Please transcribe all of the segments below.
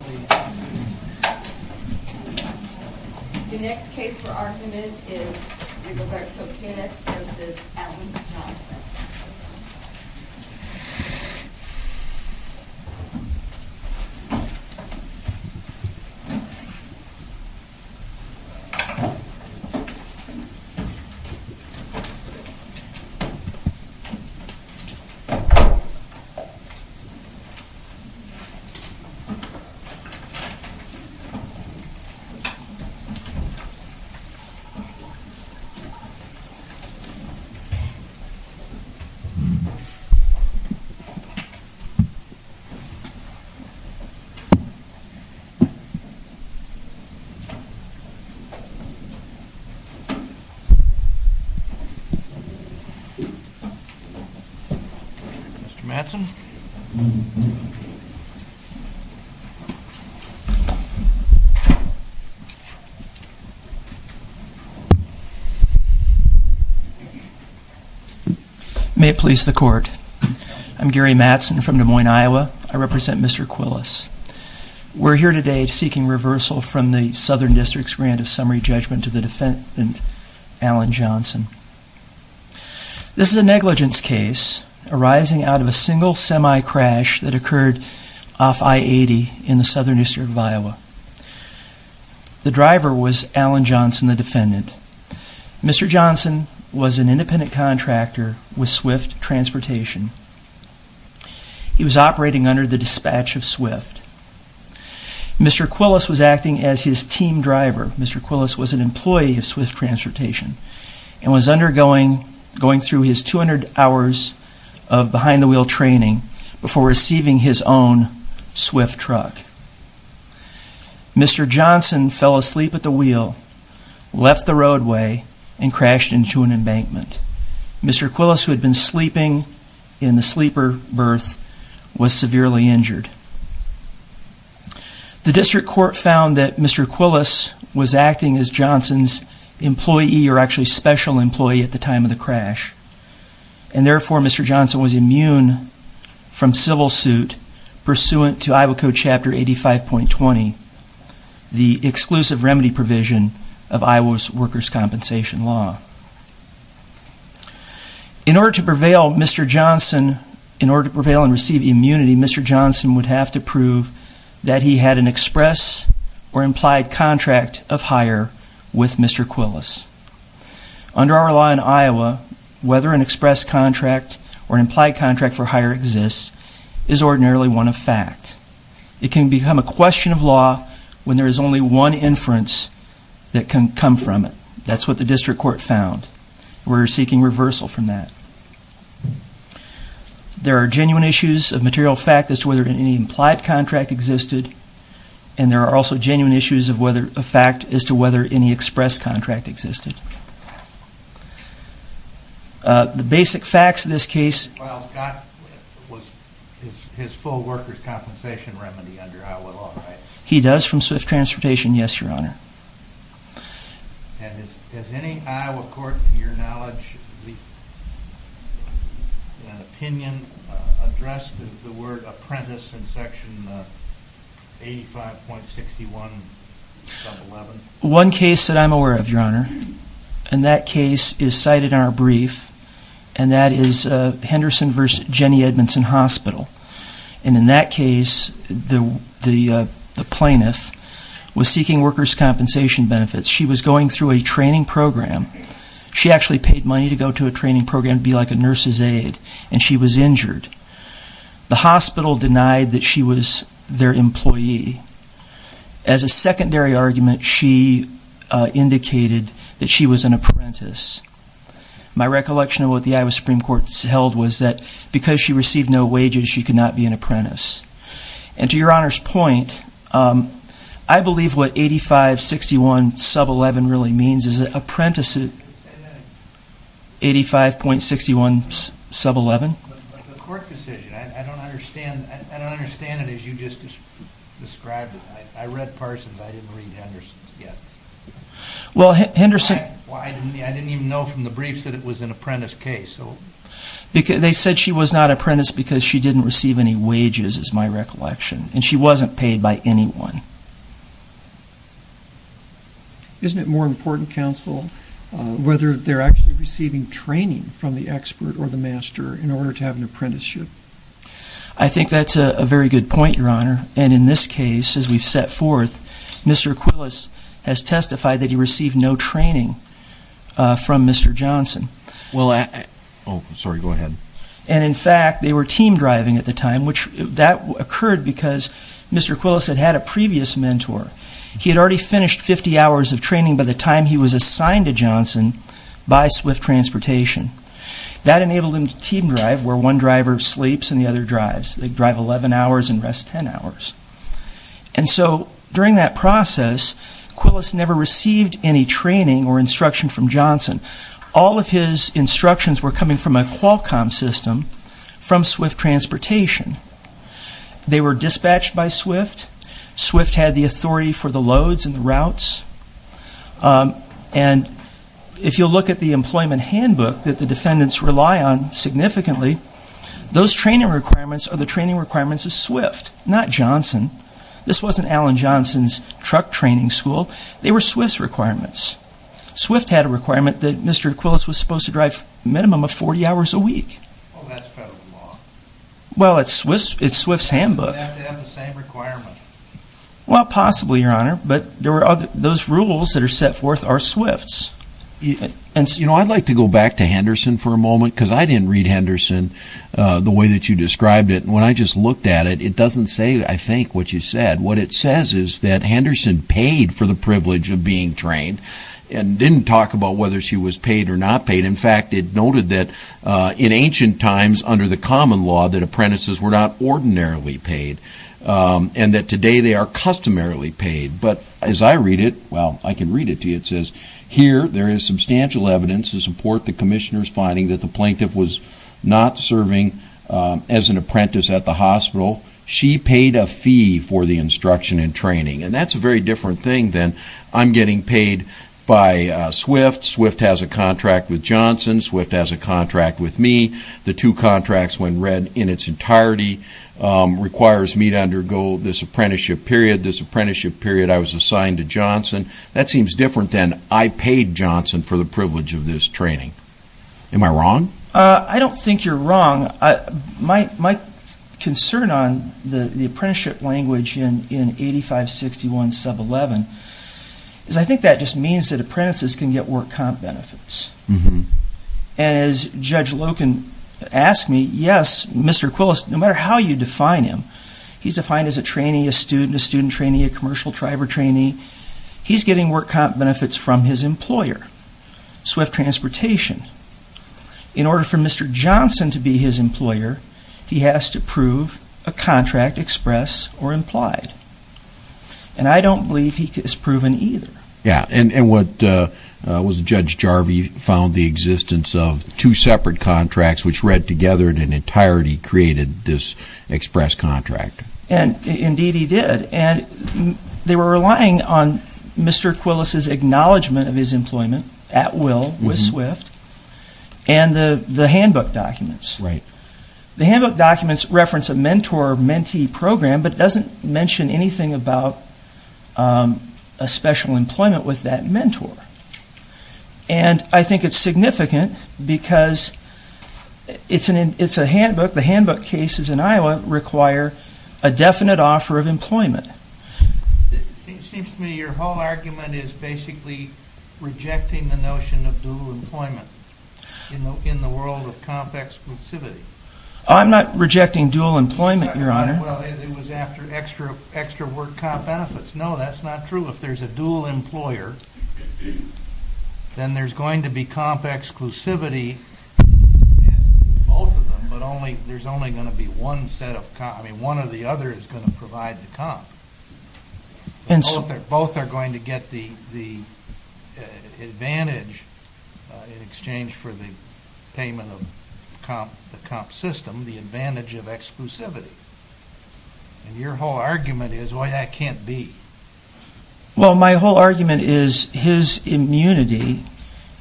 The next case for argument is Roberto Quiles v. Alan Johnson Mr. Mattson May it please the court. I'm Gary Mattson from Des Moines, Iowa. I represent Mr. Quiles. We're here today seeking reversal from the Southern District's grant of summary judgment to the defendant, Alan Johnson. This is a negligence case arising out of a single semi-crash that occurred off I-80 in the Southern District of Iowa. The driver was Alan Johnson, the defendant. Mr. Johnson was an independent contractor with Swift Transportation. He was operating under the dispatch of Swift. Mr. Quiles was acting as his team driver. Mr. Quiles was an employee of Swift Transportation and was undergoing, going through his 200 hours of behind-the-wheel training before receiving his own Swift truck. Mr. Johnson fell asleep at the wheel, left the roadway, and crashed into an embankment. Mr. Quiles, who had been sleeping in the sleeper berth, was severely injured. The district court found that Mr. Quiles was acting as Johnson's employee, or actually special employee, at the time of the crash. And therefore, Mr. Johnson was immune from civil suit pursuant to Iowa Code Chapter 85.20, the exclusive remedy provision of Iowa's workers' compensation law. In order to prevail, Mr. Johnson, in order to prevail and receive immunity, Mr. Johnson would have to prove that he had an express or implied contract of hire with Mr. Quiles. Under our law in Iowa, whether an express contract or implied contract for hire exists is ordinarily one of fact. It can become a question of law when there is only one inference that can come from it. That's what the district court found. We're seeking reversal from that. There are genuine issues of material fact as to whether any implied contract existed and there are genuine issues of material fact as to whether any implied contract existed. The basic facts of this case... Mr. Quiles got his full workers' compensation remedy under Iowa law, right? He does, from Swift Transportation, yes, Your Honor. And has any Iowa court, to your knowledge, at least in an opinion, addressed the word apprentice in Section 85.61, sub 11? One case that I'm aware of, Your Honor, and that case is cited in our brief, and that is Henderson v. Jenny Edmondson Hospital. And in that case, the plaintiff was seeking workers' compensation benefits. She was going through a training program. She actually paid money to go to a training program to be like a nurse's aide, and she was injured. The hospital denied that she was their employee. As a secondary argument, she indicated that she was an apprentice. My recollection of what the Iowa Supreme Court held was that because she received no wages, she could not be an apprentice. And to Your Honor's point, I believe what 85.61, sub 11 really means is that apprentices... 85.61, sub 11? But the court decision, I don't understand it as you just described it. I read Parsons, I didn't read Henderson's yet. Well, Henderson... Why? I didn't even know from the briefs that it was an apprentice case, so... They said she was not an apprentice because she didn't receive any wages, is my recollection, and she wasn't paid by anyone. Isn't it more important, counsel, whether they're actually receiving training from the court to have an apprenticeship? I think that's a very good point, Your Honor. And in this case, as we've set forth, Mr. Quillis has testified that he received no training from Mr. Johnson. Well, I... Oh, sorry, go ahead. And in fact, they were team driving at the time, which that occurred because Mr. Quillis had had a previous mentor. He had already finished 50 hours of training by the time he was assigned to Johnson by Swift Transportation. That enabled him to team drive where one driver sleeps and the other drives. They drive 11 hours and rest 10 hours. And so, during that process, Quillis never received any training or instruction from Johnson. All of his instructions were coming from a Qualcomm system from Swift Transportation. They were dispatched by Swift. Swift had the authority for the loads and the routes. And if you look at the employment handbook that the defendants rely on significantly, those training requirements are the training requirements of Swift, not Johnson. This wasn't Alan Johnson's truck training school. They were Swift's requirements. Swift had a requirement that Mr. Quillis was supposed to drive a minimum of 40 hours a week. Well, that's federal law. Well, it's Swift's handbook. They have to have the same requirement. Well, possibly, Your Honor. But those rules that are set forth are Swift's. You know, I'd like to go back to Henderson for a moment because I didn't read Henderson the way that you described it. When I just looked at it, it doesn't say, I think, what you said. What it says is that Henderson paid for the privilege of being trained and didn't talk about whether she was paid or not paid. In fact, it noted that in ancient times under the common law, that apprentices were not ordinarily paid and that today they are customarily paid. But as I read it, well, I can read it to you. It says, here there is substantial evidence to support the Commissioner's finding that the plaintiff was not serving as an apprentice at the hospital. She paid a fee for the instruction and training. And that's a very different thing than I'm getting paid by Swift. Swift has a contract with Johnson. Swift has a contract with me. The two contracts, when read in its entirety, requires me to undergo this apprenticeship period. This apprenticeship period, I was assigned to Johnson. That seems different than I paid Johnson for the privilege of this training. Am I wrong? I don't think you're wrong. My concern on the apprenticeship language in 8561 sub 11 is I think that just means that apprentices can get work comp benefits. And as Judge Loken asked me, yes, Mr. Quillis, no matter how you define him, he's defined as a trainee, a student, a student trainee, a commercial driver trainee. He's getting work comp benefits from his employer, Swift Transportation. In order for Mr. Johnson to be his employer, he has to prove a contract expressed or implied. And I don't believe he is proven either. Yeah. And what was Judge Jarvie found the existence of two separate contracts which read together in an entirety created this express contract. And indeed he did. And they were relying on Mr. Quillis's acknowledgment of his employment at will with Swift and the handbook documents. Right. The handbook documents reference a mentor-mentee program, but doesn't mention anything about a special employment with that mentor. And I think it's significant because it's a handbook. The handbook cases in Iowa require a definite offer of employment. It seems to me your whole argument is basically rejecting the notion of dual employment in the world of comp exclusivity. I'm not rejecting dual employment, Your Honor. Well, it was after extra work comp benefits. No, that's not true. If there's a dual employer, then there's going to be comp exclusivity in both of them, but there's only going to be one set of comp. I mean, one or the other is going to provide the comp. Both are going to get the advantage in exchange for the payment of the comp system, the advantage of exclusivity. And your whole argument is, well, that can't be. Well, my whole argument is his immunity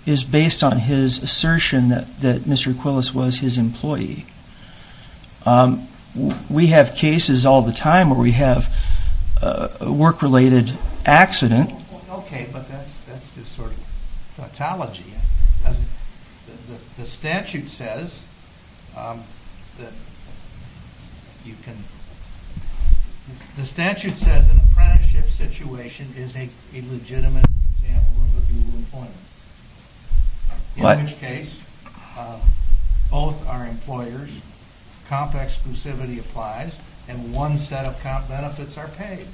is based on his assertion that Mr. Quillis was his employee. We have cases all the time where we have a work-related accident. Okay, but that's just sort of tautology. The statute says an apprenticeship situation is a legitimate example of a dual employment, in which case both are employers, comp exclusivity applies, and one set of comp benefits are paid.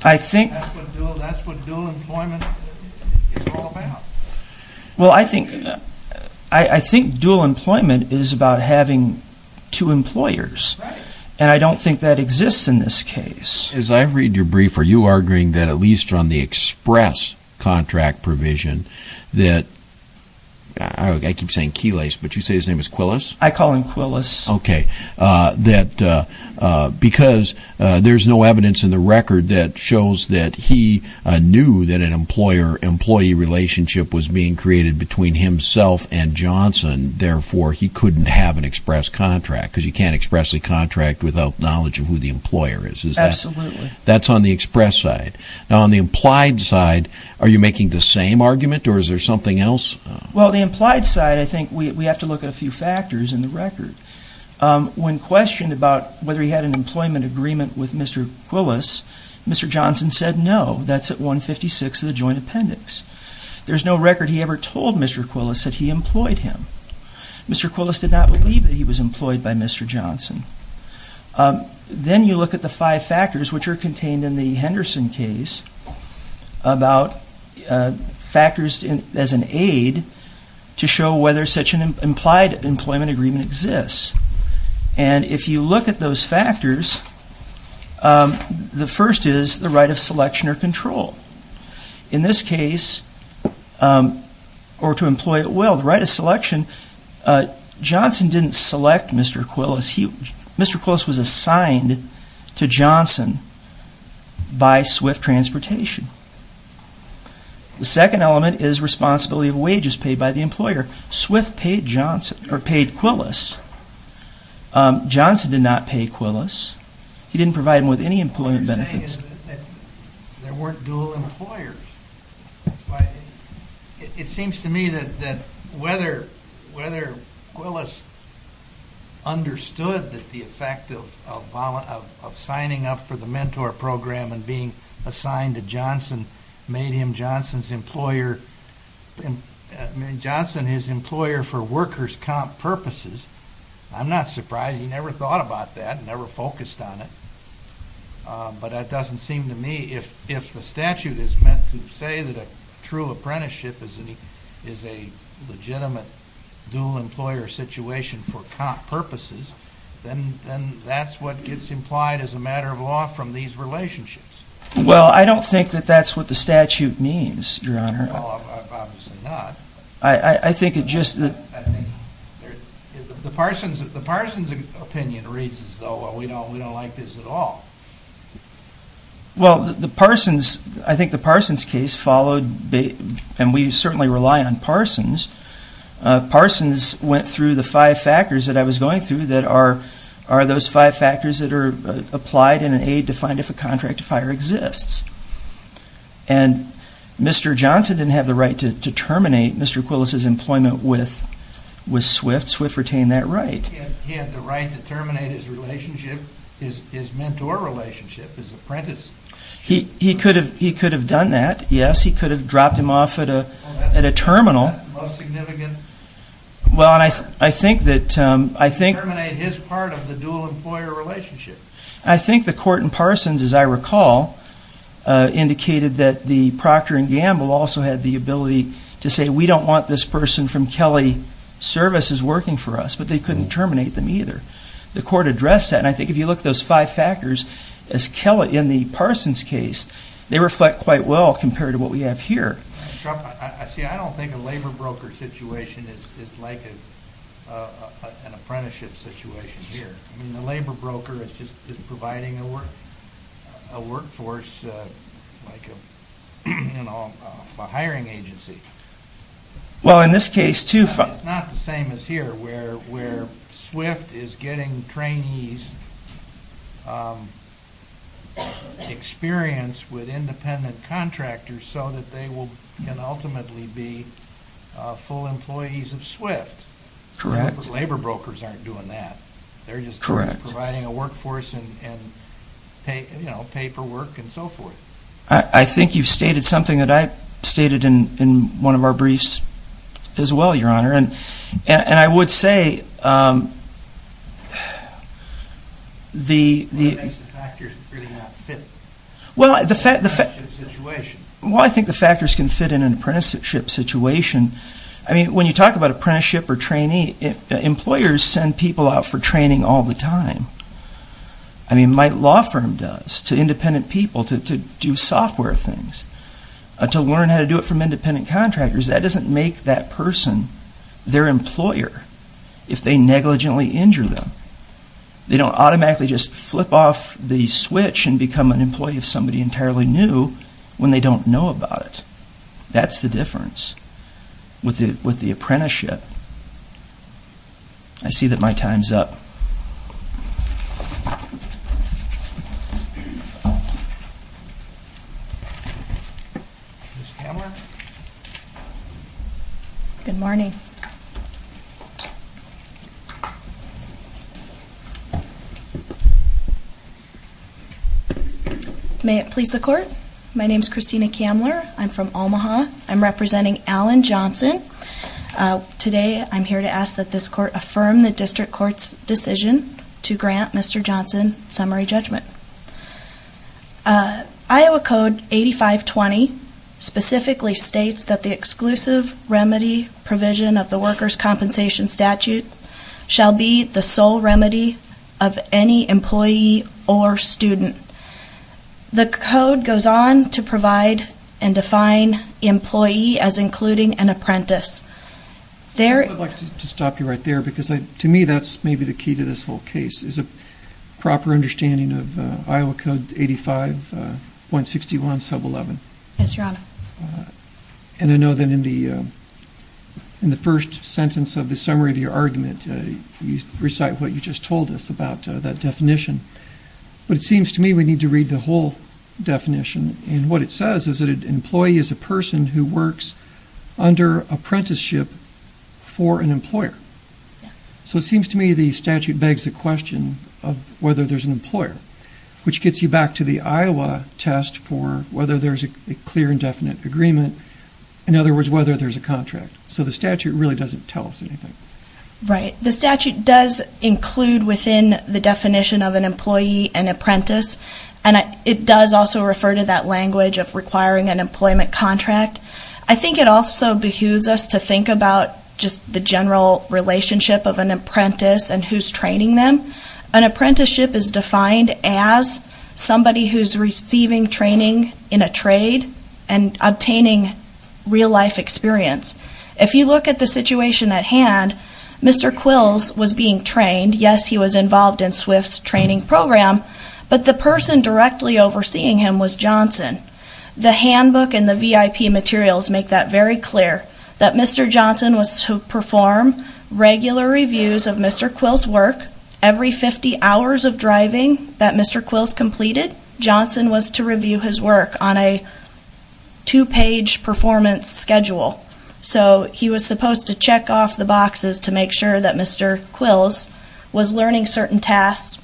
That's what dual employment is all about. Well, I think dual employment is about having two employers, and I don't think that exists in this case. As I read your brief, are you arguing that at least on the express contract provision that, I keep saying Quillis, but you say his name is Quillis? I call him Quillis. Okay, because there's no evidence in the record that shows that he knew that an employer-employee relationship was being created between himself and Johnson, therefore he couldn't have an express contract, because you can't express a contract without knowledge of who the employer is. Absolutely. That's on the express side. Now, on the implied side, are you making the same argument, or is there something else? Well, the implied side, I think we have to look at a few factors in the record. When questioned about whether he had an employment agreement with Mr. Quillis, Mr. Johnson said no, that's at 156 of the joint appendix. There's no record he ever told Mr. Quillis that he employed him. Mr. Quillis did not believe that he was employed by Mr. Johnson. Then you look at the five factors, which are contained in the Henderson case, about factors as an aid to show whether such an implied employment agreement exists. And if you look at those factors, the first is the right of selection or control. In this case, or to employ at will, the right of selection, Johnson didn't select Mr. Quillis. Mr. Quillis was assigned to Johnson by Swift Transportation. The second element is responsibility of wages paid by the employer. Swift paid Quillis. Johnson did not pay Quillis. He didn't provide him with any employment benefits. What you're saying is that there weren't dual employers. It seems to me that whether Quillis understood the effect of signing up for the mentor program and being assigned to Johnson made him Johnson's employer for workers' comp purposes. I'm not surprised, he never thought about that, never focused on it. But that doesn't seem to me... If the statute is meant to say that a true apprenticeship is a legitimate dual employer situation for comp purposes, then that's what gets implied as a matter of law from these relationships. Well, I don't think that that's what the statute means, Your Honor. Well, obviously not. I think it just... The Parsons opinion reads as though we don't like this at all. Well, the Parsons, I think the Parsons case followed, and we certainly rely on Parsons, Parsons went through the five factors that I was going through that are those five factors that are applied in an aid to find if a contract to fire exists. And Mr. Johnson didn't have the right to terminate Mr. Quillis's employment with Swift. Swift retained that right. He had the right to terminate his relationship, his mentor relationship, his apprentice. He could have done that, yes. He could have dropped him off at a terminal. Well, that's the most significant... Well, I think that... Terminate his part of the dual employer relationship. I think the court in Parsons, as I recall, indicated that the Proctor and Gamble also had the ability to say, we don't want this person from Kelly Services working for us, but they couldn't terminate them either. The court addressed that, and I think if you look at those five factors, as Kelly, in the Parsons case, they reflect quite well compared to what we have here. See, I don't think a labor broker situation is like an apprenticeship situation here. I mean, a labor broker is just providing a workforce like a hiring agency. Well, in this case, too... It's not the same as here, where Swift is getting trainees experience with independent contractors so that they can ultimately be full employees of Swift. Correct. Labor brokers aren't doing that. They're just providing a workforce and pay for work and so forth. I think you've stated something that I've stated in one of our briefs as well, Your Honor, and I would say... What makes the factors really not fit in an apprenticeship situation? Well, I think the factors can fit in an apprenticeship situation. I mean, when you talk about apprenticeship or trainee, employers send people out for training all the time. I mean, my law firm does, to independent people to do software things, to learn how to do it from independent contractors. That doesn't make that person their employer if they negligently injure them. They don't automatically just flip off the switch and become an employee of somebody entirely new when they don't know about it. That's the difference with the apprenticeship. I see that my time's up. Ms. Kamler? Good morning. May it please the Court? My name's Christina Kamler. I'm from Omaha. I'm representing Alan Johnson. Today, I'm here to ask that this Court affirm the District Court's decision to grant Mr. Johnson summary judgment. Iowa Code 8520 specifically states that the exclusive remedy provision of the workers' compensation statute shall be the sole remedy of any employee or student. The Code goes on to provide and define employee as including an apprentice. I'd like to stop you right there because to me that's maybe the key to this whole case is a proper understanding of Iowa Code 85.61 Sub 11. Yes, Your Honor. And I know that in the first sentence of the summary of your argument, you recite what you just told us about that definition. But it seems to me we need to read the whole definition. And what it says is that an employee is a person who works under apprenticeship for an employer. So it seems to me the statute begs the question of whether there's an employer, which gets you back to the Iowa test for whether there's a clear and definite agreement. In other words, whether there's a contract. So the statute really doesn't tell us anything. Right. The statute does include within the definition of an employee an apprentice. And it does also refer to that language of requiring an employment contract. I think it also behooves us to think about just the general relationship of an apprentice and who's training them. An apprenticeship is defined as somebody who's receiving training in a trade and obtaining real life experience. If you look at the situation at hand, Mr. Quills was being trained. Yes, he was involved in SWIFT's training program, but the person directly overseeing him was Johnson. The handbook and the VIP materials make that very clear that Mr. Johnson was to perform regular reviews of Mr. Quills' work every 50 hours of driving that Mr. Quills completed. Johnson was to review his work on a two page performance schedule. So he was supposed to check off the boxes to make sure that Mr. Quills was learning certain tasks.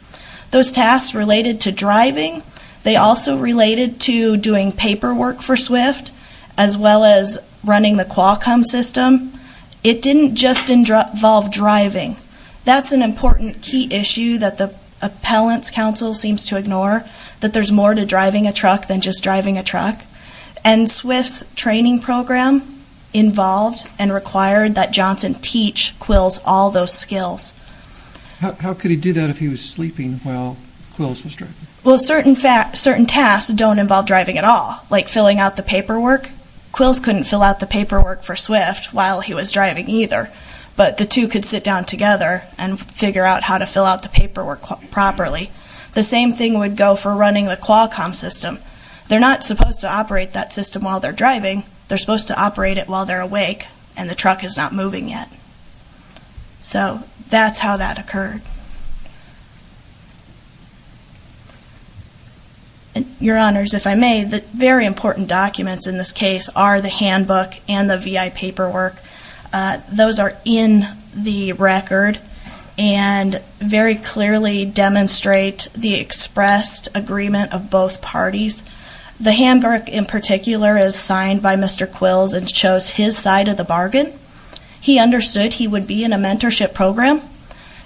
Those tasks related to driving. They also related to doing paperwork for SWIFT as well as running the Qualcomm system. It didn't just involve driving. That's an important key issue that the Appellants Council seems to ignore. There's more to driving a truck than just driving a truck. SWIFT's training program involved and required that Johnson teach Quills all those skills. How could he do that if he was sleeping while Quills was driving? Certain tasks don't involve driving at all, like filling out the paperwork. Quills couldn't fill out the paperwork for SWIFT while he was driving either, but the two could sit down together and figure out how to fill out the paperwork properly. The same thing would go for running the Qualcomm system. They're not supposed to operate that system while they're driving. They're supposed to operate it while they're awake and the truck is not moving yet. So that's how that occurred. Your Honors, if I may, the very important documents in this case are the handbook and the VI paperwork. Those are in the record and very clearly demonstrate the expressed agreement of both parties. The handbook in particular is signed by Mr. Quills and shows his side of the bargain. He understood he would be in a mentorship program.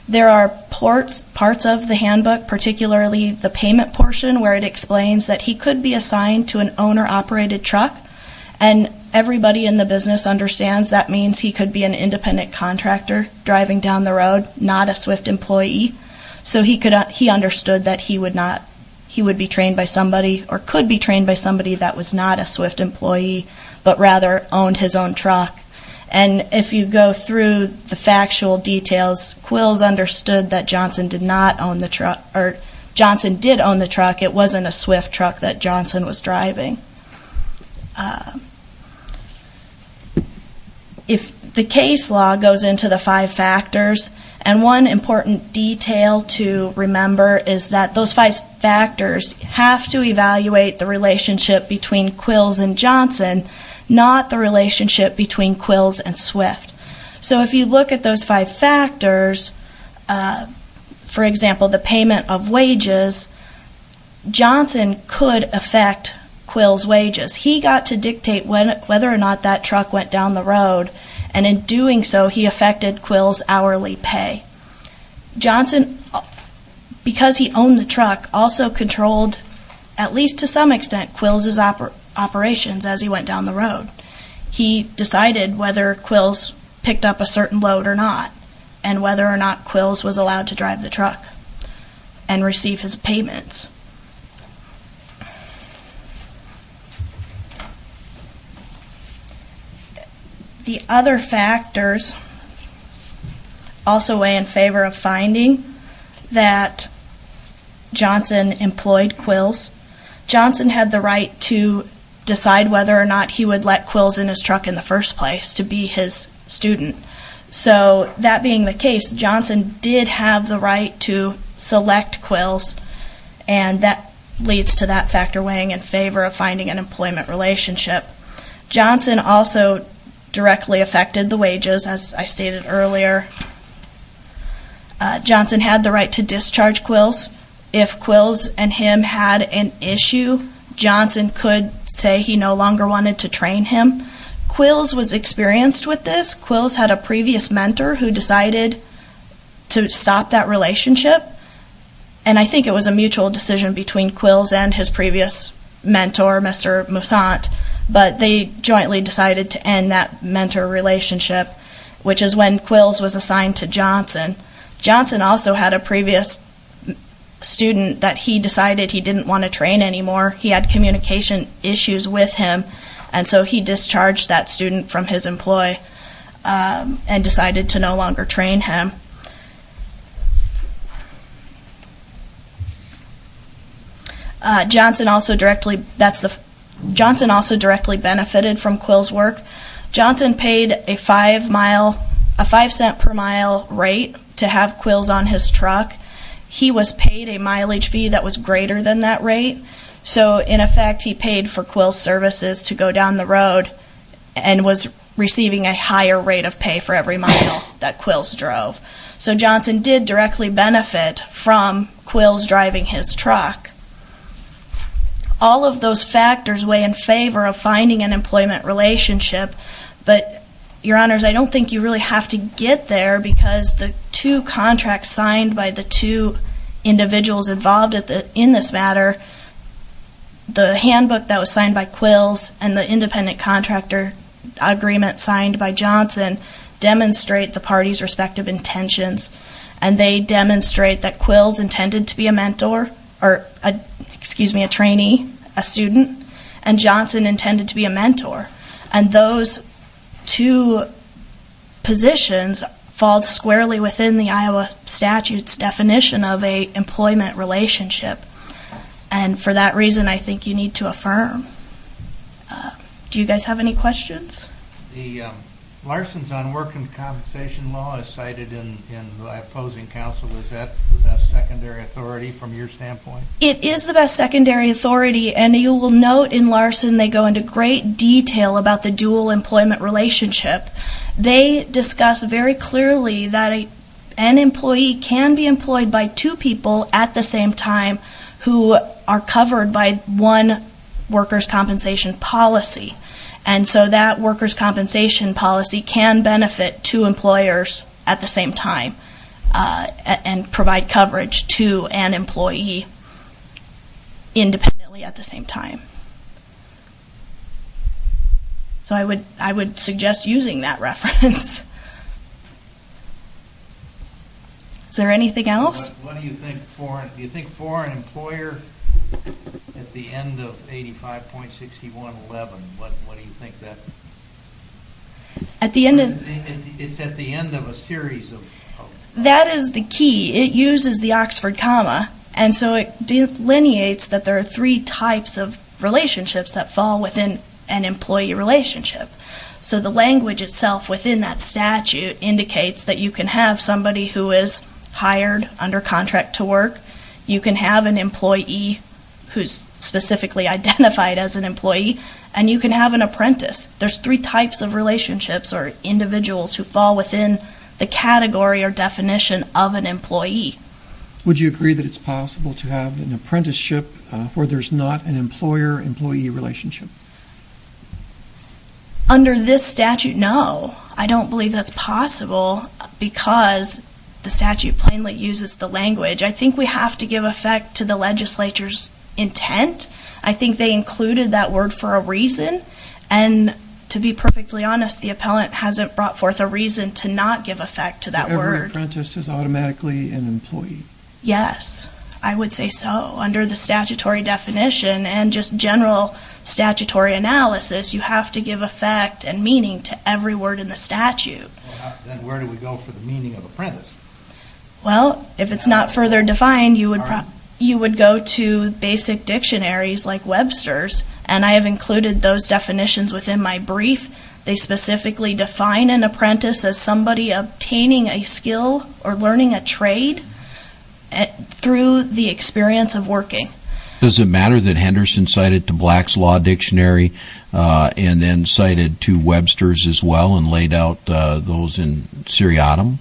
There are parts of the handbook, particularly the payment portion, where it explains that he could be assigned to an owner-operated truck and everybody in the business understands that means he could be an independent contractor driving down the road, not a SWIFT employee. He understood that he would be trained by somebody or could be trained by somebody that was not a SWIFT employee but rather owned his own truck. If you go through the factual details, Quills understood that Johnson did own the truck. It wasn't a SWIFT truck that Johnson was driving. The case law goes into the five factors. One important detail to remember is that those five factors have to evaluate the relationship between Quills and Johnson, not the relationship between Quills and SWIFT. If you look at those five factors, Johnson could affect Quills' wages. He got to dictate whether or not that truck went down the road and in doing so he affected Quills' hourly pay. Johnson, because he owned the truck, also controlled, at least to some extent, Quills' operations as he went down the road. He decided whether Quills picked up a certain load or not and whether or not Quills was allowed to drive the truck and receive his payments. The other factors also weigh in favor of finding that Johnson employed Quills. Johnson had the right to decide whether or not he would let Quills in his truck in the first place to be his student. So that being the case, Johnson did have the right to select Quills and that leads to that factor weighing in favor of finding an employment relationship. Johnson also directly affected the wages, as I stated earlier. Johnson had the right to discharge Quills. If Quills and him had an issue, Johnson could say he no longer wanted to train him. Quills was experienced with this. Quills had a previous mentor who decided to stop that relationship. I think it was a mutual decision between Quills and his previous mentor, Mr. Moussant, but they jointly decided to end that mentor relationship, which is when Quills was assigned to Johnson. Johnson also had a previous student that he decided he didn't want to train anymore. He had communication issues with him and so he discharged that student from his employee and decided to no longer train him. Johnson also directly benefited from Quills' work. Johnson paid a 5 cent per mile rate to have Quills on his truck. He was paid a mileage fee that was greater than that rate, so in effect he paid for Quills' services to go down the road and was receiving a higher rate of pay for every mile that Quills drove. So Johnson did directly benefit from Quills driving his truck. All of those factors weigh in favor of finding an employment relationship, but, Your Honors, I don't think you really have to get there because the two contracts signed by the two individuals involved in this matter, the handbook that was signed by Quills and the independent contractor agreement signed by Johnson demonstrate the parties' respective intentions and they demonstrate that Quills intended to be a mentor or, excuse me, a trainee, a student and Johnson intended to be a mentor and those two positions fall squarely within the Iowa statute's definition of an employment relationship and for that reason I think you need to affirm. Do you guys have any questions? Larson's Unworking Compensation Law is cited in the opposing counsel. Is that the best secondary authority from your standpoint? It is the best secondary authority and you will note in Larson they go into great detail about the dual employment relationship. They discuss very clearly that an employee can be employed by two people at the same time who are covered by one worker's compensation policy can benefit two employers at the same time and provide coverage to an employee independently at the same time. So I would suggest using that reference. Is there anything else? What do you think for an employer at the end of 85.6111 What do you think? It's at the end of a series of That is the key. It uses the Oxford comma and so it delineates that there are three types of relationships that fall within an employee relationship. So the language itself within that statute indicates that you can have somebody who is hired under contract to work you can have an employee who is specifically identified as an employee and you can have an apprentice. There's three types of relationships or individuals who fall within the category or definition of an employee. Would you agree that it's possible to have an apprenticeship where there's not an employer-employee relationship? Under this statute, no. I don't believe that's possible because the statute plainly uses the language. I think we have to give effect to the legislature's intent. I think they included that word for a reason and to be perfectly honest, the appellant hasn't brought forth a reason to not give effect to that word. Every apprentice is automatically an employee. Yes, I would say so. Under the statutory definition and just general statutory analysis you have to give effect and meaning to every word in the statute. Then where do we go for the meaning of apprentice? Well, if it's not further defined you would go to basic dictionaries like Webster's and I have included those definitions within my brief. They specifically define an apprentice as somebody obtaining a skill or learning a trade through the experience of working. Does it matter that Henderson cited to Black's Law Dictionary and then cited to Webster's as well and laid out those in seriatim?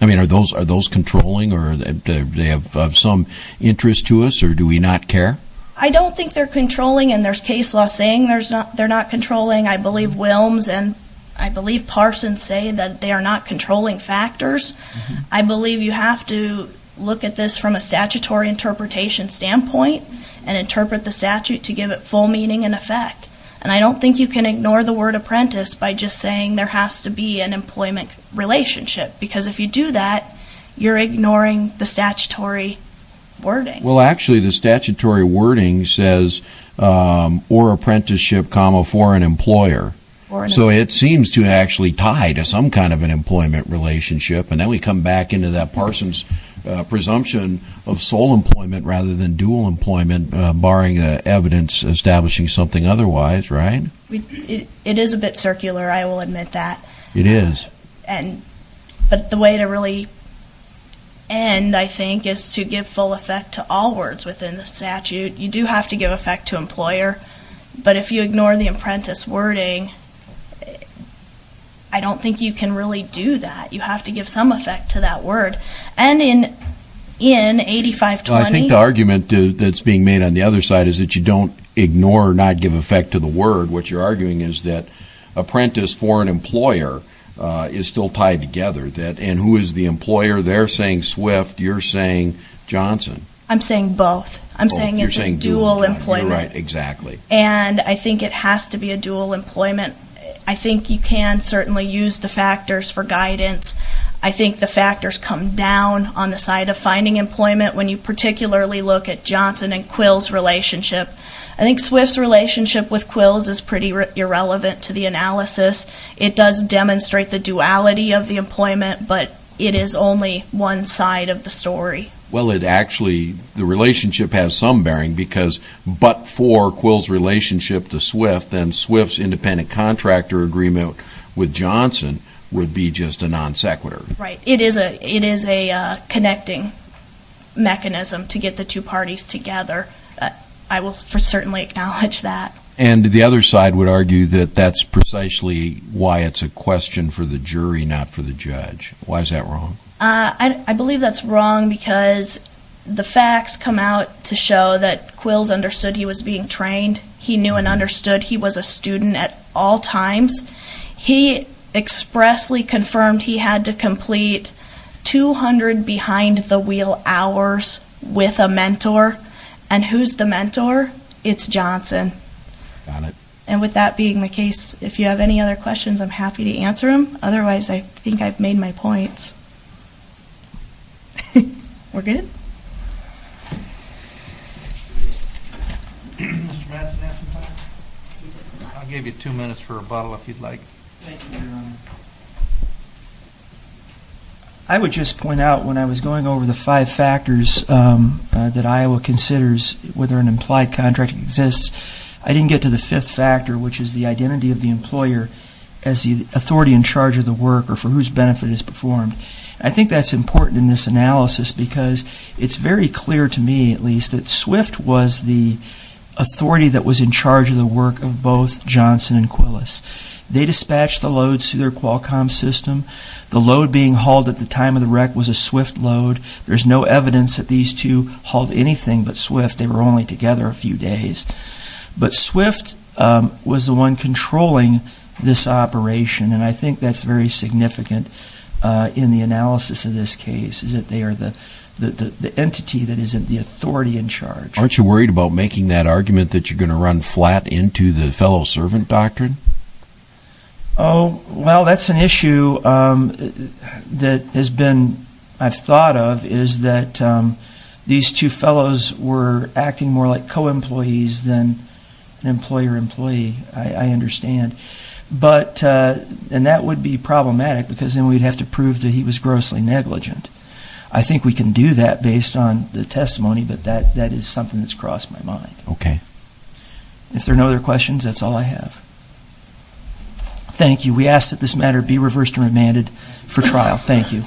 Are those controlling or do they have some interest to us or do we not care? I don't think they're controlling and there's case law saying they're not controlling. I believe Wilms and I believe Parsons say that they are not controlling factors. I believe you have to look at this from a statutory interpretation standpoint and interpret the statute to give it full meaning and effect. And I don't think you can ignore the word apprentice by just saying there has to be an employment relationship because if you do that, you're ignoring the statutory wording. Well, actually the statutory wording says or apprenticeship, for an employer. So it seems to actually tie to some kind of an employment relationship and then we come back into that Parsons presumption of sole employment rather than dual employment barring evidence establishing something otherwise, right? It is a bit circular, I will admit that. It is. But the way to really end, I think, is to give full effect to all words within the statute. You do have to give effect to employer but if you ignore the apprentice wording I don't think you can really do that. You have to give some effect to that word. And in 8520... I think the argument that's being made on the other side is that you don't ignore or not give effect to the word. What you're arguing is that apprentice for an employer is still tied together. And who is the employer? They're saying Swift, you're saying Johnson. I'm saying both. I'm saying it's a dual employment. You're right, exactly. And I think it has to be a dual employment. I think you can certainly use the factors for guidance. I think the factors come down on the side of finding employment when you particularly look at Johnson and Quill's relationship. I think Swift's relationship with Quill's is pretty irrelevant to the analysis. It does demonstrate the duality of the employment but it is only one side of the story. Well, it actually... the relationship has some bearing because but for Quill's relationship to Swift then Swift's independent contractor agreement with Johnson would be just a non sequitur. Right. It is a connecting mechanism to get the two parties together. I will certainly acknowledge that. And the other side would argue that that's precisely why it's a question for the jury, not for the judge. Why is that wrong? I believe that's wrong because the facts come out to show that Quill's understood he was being trained. He knew and understood he was a student at all times. He expressly confirmed he had to complete 200 behind the wheel hours with a mentor. And who's the mentor? It's Johnson. And with that being the case, if you have any other questions I'm happy to answer them. Otherwise, I think I've made my points. We're good? I'll give you two minutes for a bottle if you'd like. Thank you, Your Honor. I would just point out when I was going over the five factors that Iowa considers whether an implied contract exists I didn't get to the fifth factor which is the identity of the employer as the authority in charge of the work or for whose benefit it's performed. I think that's important in this analysis because it's very clear to me, at least, that Swift was the authority that was in charge of the work of both Johnson and Quillis. They dispatched the loads through their Qualcomm system. The load being hauled at the time of the wreck was a Swift load. There's no evidence that these two hauled anything but Swift. They were only together a few days. But Swift was the one controlling this operation and I think that's very significant in the analysis of this case is that they are the entity that is the authority in charge. Aren't you worried about making that argument that you're going to run flat into the fellow servant doctrine? Well, that's an issue that I've thought of is that these two fellows were acting more like co-employees than employer-employee, I understand. And that would be problematic because then we'd have to prove that he was grossly negligent. I think we can do that based on the testimony but that is something that's crossed my mind. If there are no other questions, that's all I have. Thank you. We ask that this matter be reversed and remanded for trial. Thank you.